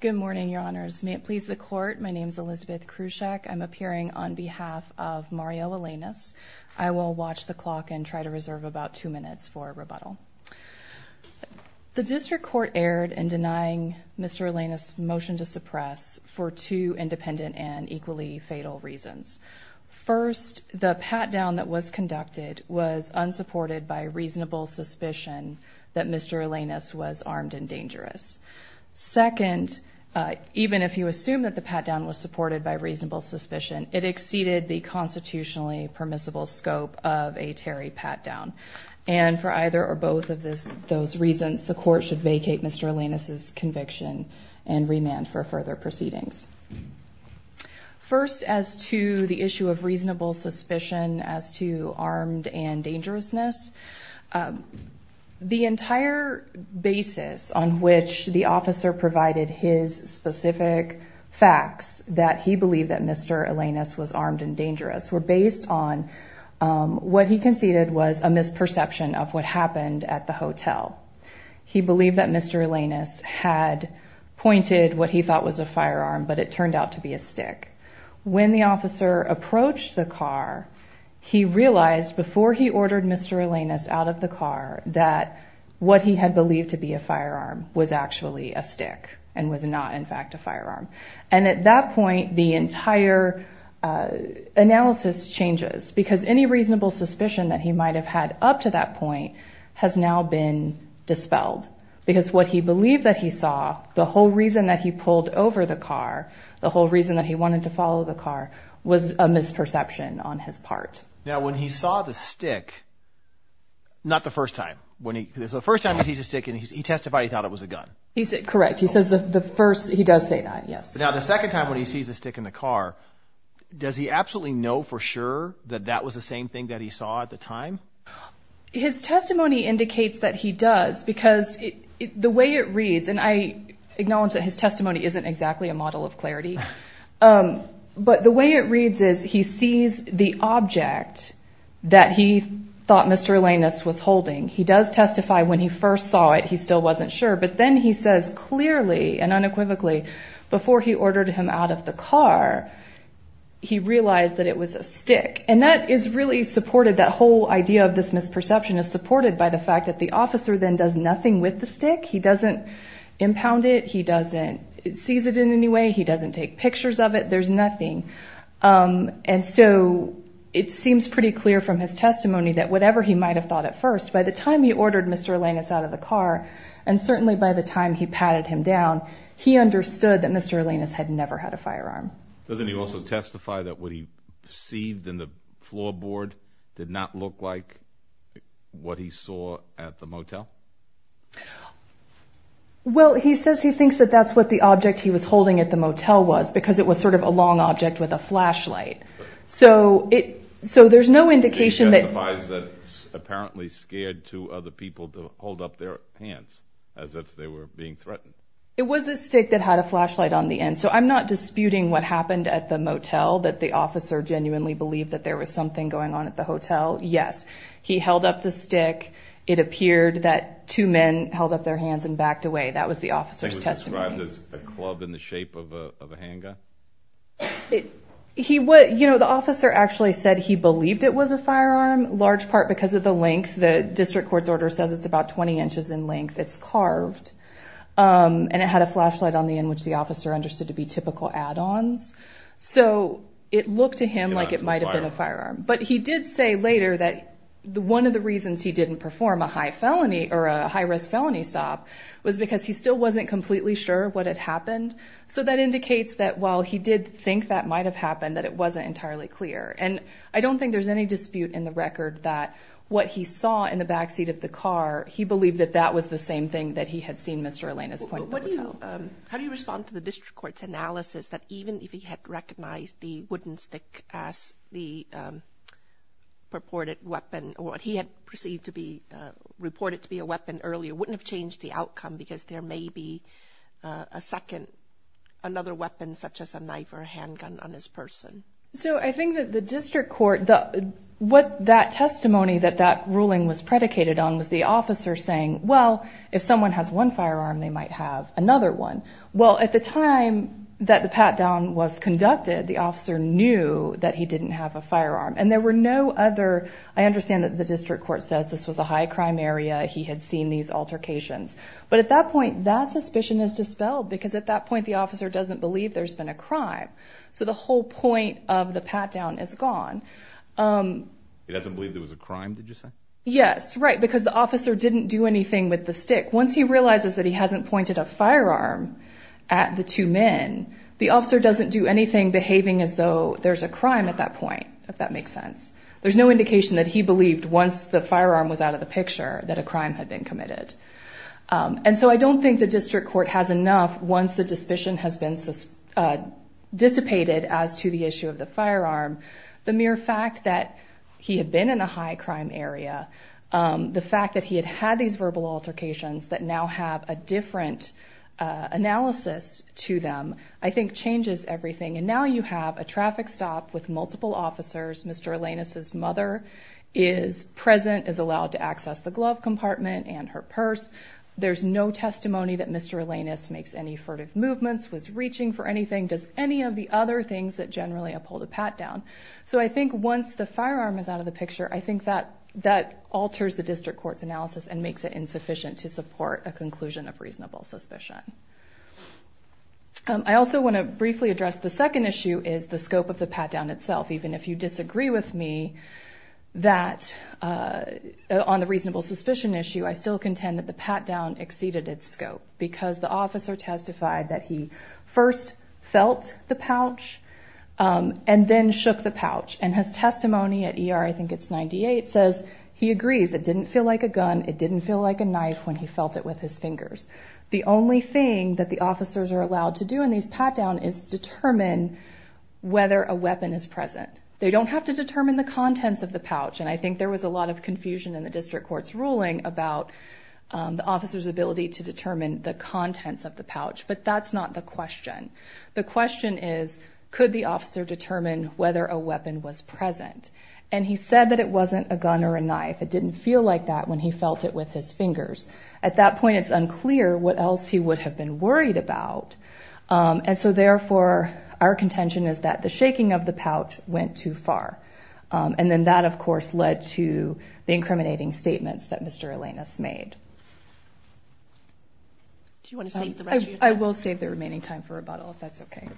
Good morning, your honors. May it please the court, my name is Elizabeth Krusek. I'm appearing on behalf of Mario Elenes. I will watch the clock and try to reserve about two minutes for rebuttal. The district court erred in denying Mr. Elenes' motion to suppress for two independent and equally fatal reasons. First, the pat-down that was conducted was second, even if you assume that the pat-down was supported by reasonable suspicion, it exceeded the constitutionally permissible scope of a Terry pat-down. And for either or both of those reasons, the court should vacate Mr. Elenes' conviction and remand for further proceedings. First, as to the issue of reasonable suspicion as to armed and dangerousness, the entire basis on which the officer provided his specific facts that he believed that Mr. Elenes was armed and dangerous were based on what he conceded was a misperception of what happened at the hotel. He believed that Mr. Elenes had pointed what he thought was a firearm, but it turned out to be a stick. When the officer approached the car, he realized before he ordered Mr. Elenes out of the car that what he had believed to be a firearm was actually a stick and was not, in fact, a firearm. And at that point, the entire analysis changes because any reasonable suspicion that he might have had up to that point has now been dispelled because what he believed that he saw, the whole reason that he pulled over the car, the whole reason that he Not the first time. The first time he sees a stick and he testified he thought it was a gun. He's correct. He does say that, yes. Now, the second time when he sees a stick in the car, does he absolutely know for sure that that was the same thing that he saw at the time? His testimony indicates that he does because the way it reads, and I acknowledge that his testimony isn't exactly a model of clarity, but the way it reads is he sees the object that he thought Mr. Elenes was holding. He does testify when he first saw it, he still wasn't sure. But then he says clearly and unequivocally before he ordered him out of the car, he realized that it was a stick. And that is really supported, that whole idea of this misperception is supported by the fact that the officer then does nothing with the stick. He doesn't impound it. He doesn't seize it in any way. He doesn't take pictures of it. There's nothing. And so it seems pretty clear from his testimony that whatever he might have thought at first, by the time he ordered Mr. Elenes out of the car, and certainly by the time he patted him down, he understood that Mr. Elenes had never had a firearm. Doesn't he also testify that what he perceived in the floorboard did not look like what he saw at the motel? Well, he says he thinks that that's what the object he was holding at the motel was, because it was sort of a long object with a flashlight. So there's no indication that... He testifies that it's apparently scared to other people to hold up their hands as if they were being threatened. It was a stick that had a flashlight on the end. So I'm not disputing what happened at the motel, that the officer genuinely believed that there was something going on at the hotel. Yes, he held up the stick. It appeared that two men held up their hands and backed away. That was the officer's testimony. Described as a club in the shape of a handgun? The officer actually said he believed it was a firearm, large part because of the length. The district court's order says it's about 20 inches in length. It's carved. And it had a flashlight on the end, which the officer understood to be typical add-ons. So it looked to him like it might have been a firearm. But he did say later that one of the reasons he didn't perform a high felony or a high-risk felony stop was because he still wasn't completely sure what had happened. So that indicates that while he did think that might have happened, that it wasn't entirely clear. And I don't think there's any dispute in the record that what he saw in the backseat of the car, he believed that that was the same thing that he had seen Mr. Elena's point at the motel. How do you respond to the district court's analysis that even if he had recognized the wooden stick as the purported weapon or what he had perceived to be reported to be a weapon wouldn't have changed the outcome because there may be a second, another weapon such as a knife or a handgun on this person? So I think that the district court, what that testimony that that ruling was predicated on was the officer saying, well, if someone has one firearm, they might have another one. Well, at the time that the pat-down was conducted, the officer knew that he didn't have a firearm and there were no other, I understand that the district court says this was a high crime area. He had seen these altercations. But at that point, that suspicion is dispelled because at that point, the officer doesn't believe there's been a crime. So the whole point of the pat-down is gone. He doesn't believe there was a crime, did you say? Yes. Right. Because the officer didn't do anything with the stick. Once he realizes that he hasn't pointed a firearm at the two men, the officer doesn't do anything behaving as though there's a crime at that point, if that makes sense. There's no indication that he believed once the firearm was out of the picture that a crime had been committed. And so I don't think the district court has enough once the dispassion has been dissipated as to the issue of the firearm. The mere fact that he had been in a high crime area, the fact that he had had these verbal altercations that now have a different analysis to them, I think changes everything. And now you have a traffic stop with multiple officers. Mr. Alanis's mother is present, is allowed to access the glove compartment and her purse. There's no testimony that Mr. Alanis makes any furtive movements, was reaching for anything, does any of the other things that generally uphold a pat-down. So I think once the firearm is out of the picture, I think that that alters the district court's analysis and makes it insufficient to support a conclusion of reasonable suspicion. I also want to briefly address the second issue is the scope of the pat-down itself. Even if you disagree with me that on the reasonable suspicion issue, I still contend that the pat-down exceeded its scope because the officer testified that he first felt the pouch and then shook the pouch. And his testimony at ER, I think it's 98, says he agrees it didn't feel like a gun. It didn't feel like a knife when he felt it with his fingers. The only thing that the officers are allowed to do in these pat-down is determine whether a weapon is present. They don't have to determine the contents of the pouch. And I think there was a lot of confusion in the district court's ruling about the officer's ability to determine the contents of the pouch. But that's not the question. The question is, could the officer determine whether a weapon was present? And he said that wasn't a gun or a knife. It didn't feel like that when he felt it with his fingers. At that point, it's unclear what else he would have been worried about. And so therefore, our contention is that the shaking of the pouch went too far. And then that of course led to the incriminating statements that Mr. Alanis made. I will save the remaining time for rebuttal if that's okay.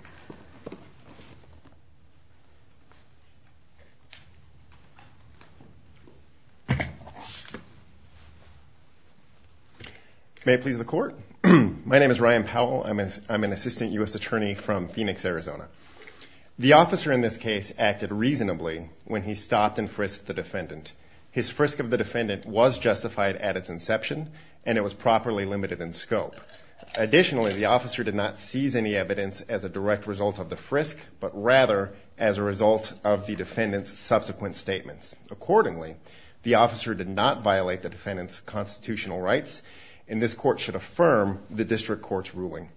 May it please the court. My name is Ryan Powell. I'm an assistant U.S. attorney from Phoenix, Arizona. The officer in this case acted reasonably when he stopped and frisked the defendant. His frisk of the defendant was justified at its inception, and it was properly limited in scope. Additionally, the officer did not seize any evidence as a direct result of the frisk, but rather as a result of the defendant's subsequent statements. Accordingly, the officer did not violate the defendant's constitutional rights, and this court should affirm the district court's ruling.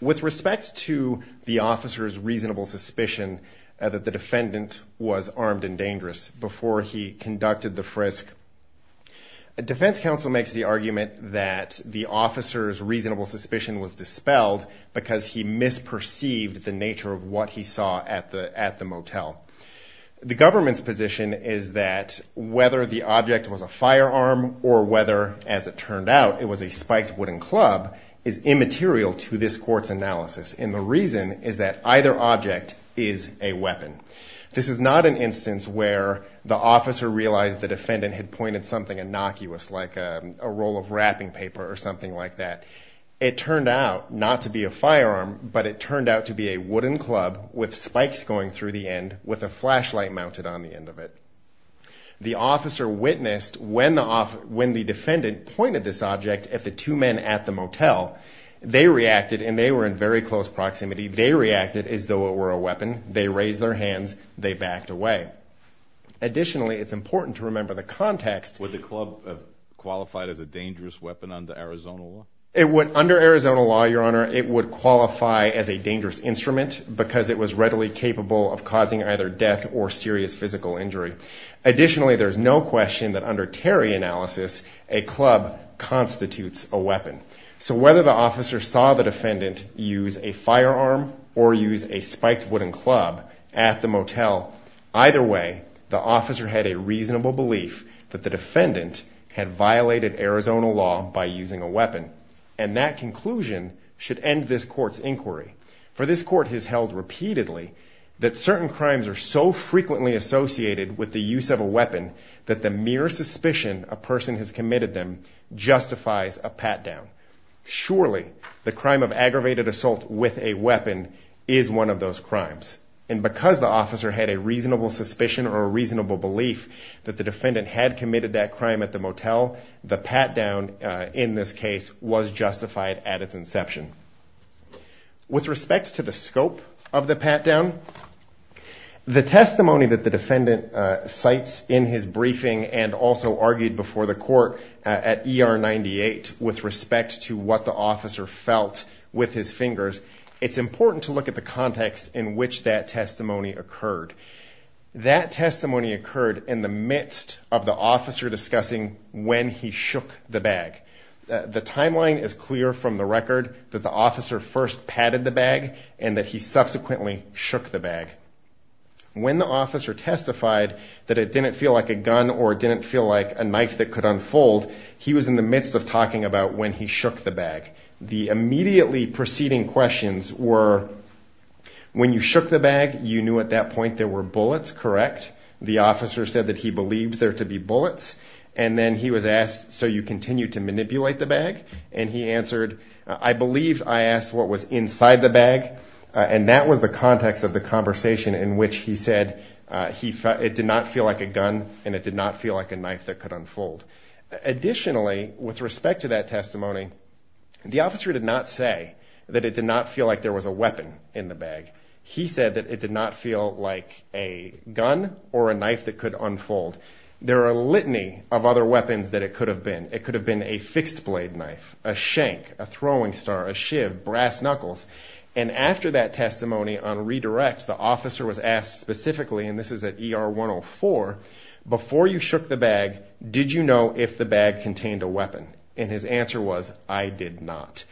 With respect to the officer's reasonable suspicion that the defendant was armed and dangerous before he conducted the frisk, a defense counsel makes the argument that the officer's reasonable he saw at the motel. The government's position is that whether the object was a firearm or whether, as it turned out, it was a spiked wooden club is immaterial to this court's analysis. And the reason is that either object is a weapon. This is not an instance where the officer realized the defendant had pointed something innocuous, like a roll of wrapping paper or something like that. It turned out not to be a firearm, but it turned out to be a wooden club with spikes going through the end with a flashlight mounted on the end of it. The officer witnessed when the defendant pointed this object at the two men at the motel. They reacted, and they were in very close proximity. They reacted as though it were a weapon. They raised their hands. They backed away. Additionally, it's important to remember the under Arizona law, your honor, it would qualify as a dangerous instrument because it was readily capable of causing either death or serious physical injury. Additionally, there's no question that under Terry analysis, a club constitutes a weapon. So whether the officer saw the defendant use a firearm or use a spiked wooden club at the motel, either way, the officer had a reasonable belief that the defendant had violated Arizona law by using a weapon. And that conclusion should end this court's inquiry for this court has held repeatedly that certain crimes are so frequently associated with the use of a weapon, that the mere suspicion a person has committed them justifies a pat down. Surely the crime of aggravated assault with a weapon is one of those crimes. And because the the defendant had committed that crime at the motel, the pat down in this case was justified at its inception with respects to the scope of the pat down the testimony that the defendant cites in his briefing, and also argued before the court at ER 98, with respect to what the officer felt with his fingers, it's important to look at the context in which that testimony occurred. That testimony occurred in the midst of the officer discussing when he shook the bag. The timeline is clear from the record that the officer first padded the bag, and that he subsequently shook the bag. When the officer testified that it didn't feel like a gun or didn't feel like a knife that could unfold. He was in the midst of talking about when he shook the bag. The immediately preceding questions were, when you shook the bag, you knew at that point there were bullets, correct? The officer said that he believed there to be bullets, and then he was asked, so you continue to manipulate the bag? And he answered, I believe I asked what was inside the bag, and that was the context of the conversation in which he said it did not feel like a gun, and it did not feel like a knife that could unfold. Additionally, with respect to that testimony, the officer did not say that it did not feel like there was a weapon in the bag. He said that it did not feel like a gun or a knife that could unfold. There are a litany of other weapons that it could have been. It could have been a fixed blade knife, a shank, a throwing star, a shiv, brass knuckles, and after that testimony on redirect, the officer was asked specifically, and this is at ER 104, before you shook the bag, did you know if the bag contained a weapon? And his answer was, I did not.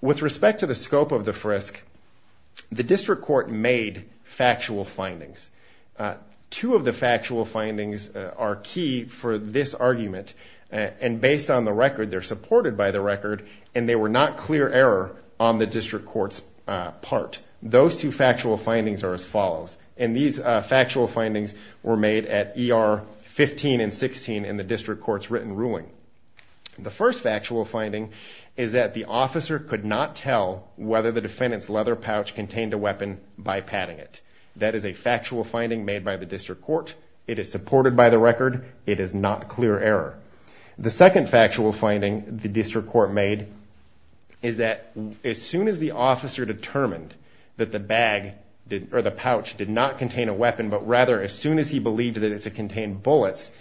With respect to the scope of the frisk, the district court made factual findings. Two of the factual findings are key for this argument, and based on the record, they're supported by the record, and they were not clear error on the district court's part. Those two findings were made at ER 15 and 16 in the district court's written ruling. The first factual finding is that the officer could not tell whether the defendant's leather pouch contained a weapon by patting it. That is a factual finding made by the district court. It is supported by the record. It is not clear error. The second factual finding the district court made is that as soon as the officer determined that the bag or the pouch did not contain a weapon, rather, as soon as he believed that it contained bullets,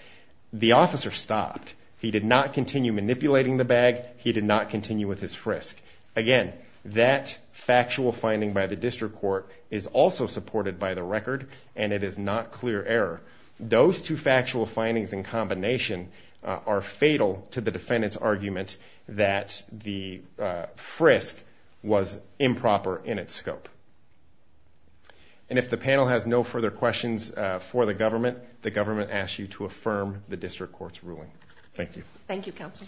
the officer stopped. He did not continue manipulating the bag. He did not continue with his frisk. Again, that factual finding by the district court is also supported by the record, and it is not clear error. Those two factual findings in combination are fatal to the defendant's argument that the frisk was for the government. The government asks you to affirm the district court's ruling. Thank you. Thank you, counsel.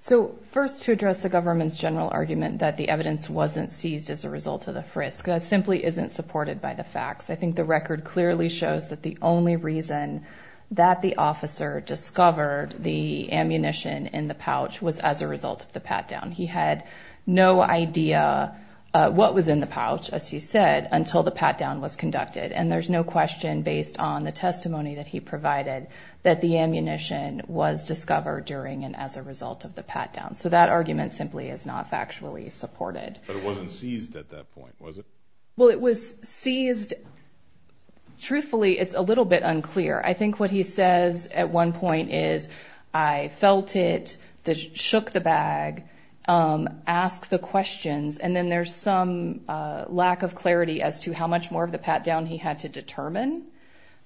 So first, to address the government's general argument that the evidence wasn't seized as a result of the frisk, that simply isn't supported by the facts. I think the record clearly shows that the only reason that the officer discovered the ammunition in the pouch was as a result of pat-down. He had no idea what was in the pouch, as he said, until the pat-down was conducted. And there's no question, based on the testimony that he provided, that the ammunition was discovered during and as a result of the pat-down. So that argument simply is not factually supported. But it wasn't seized at that point, was it? Well, it was seized. Truthfully, it's a little bit unclear. I think what he says at one point is, I felt it, shook the bag, asked the questions, and then there's some lack of clarity as to how much more of the pat-down he had to determine,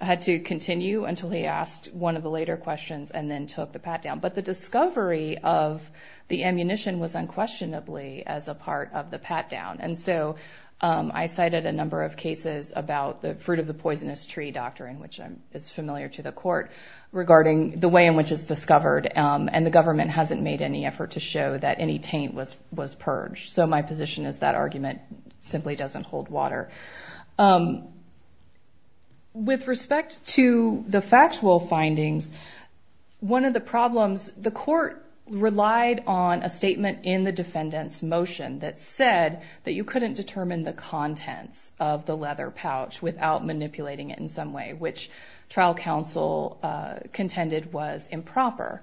had to continue until he asked one of the later questions and then took the pat-down. But the discovery of the ammunition was unquestionably as a part of the pat-down. And so I cited a number of cases about the fruit of the poisonous tree doctrine, which is familiar to the court, regarding the way in which it's discovered. And the government hasn't made any effort to show that any taint was purged. So my position is that argument simply doesn't hold water. With respect to the factual findings, one of the problems, the court relied on a statement in the defendant's motion that said that you couldn't determine the contents of the leather pouch without manipulating it in some way, which trial counsel contended was improper.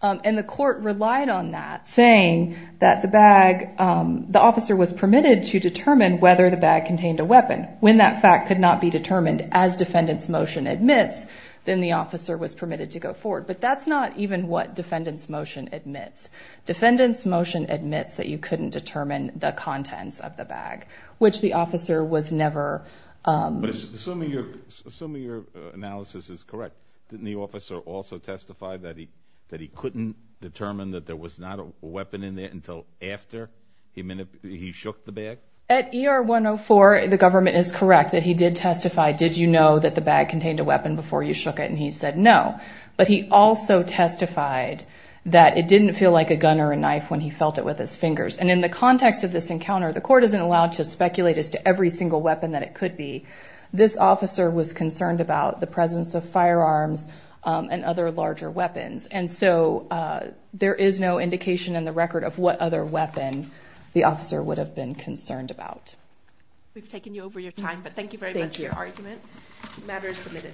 And the court relied on that, saying that the bag, the officer was permitted to determine whether the bag contained a weapon. When that fact could not be determined as defendant's motion admits, then the officer was permitted to go forward. But that's not even what defendant's motion admits. Defendant's motion admits that you could not determine the contents of the bag, which the officer was never... Assuming your analysis is correct, didn't the officer also testify that he couldn't determine that there was not a weapon in there until after he shook the bag? At ER 104, the government is correct that he did testify, did you know that the bag contained a weapon before you shook it? And he said, no. But he also testified that it didn't feel like a gun or a knife when he felt it with his fingers. And in the context of this encounter, the court isn't allowed to speculate as to every single weapon that it could be. This officer was concerned about the presence of firearms and other larger weapons. And so there is no indication in the record of what other weapon the officer would have been concerned about. We've taken you over your time, but thank you very much for your argument. The matter is submitted.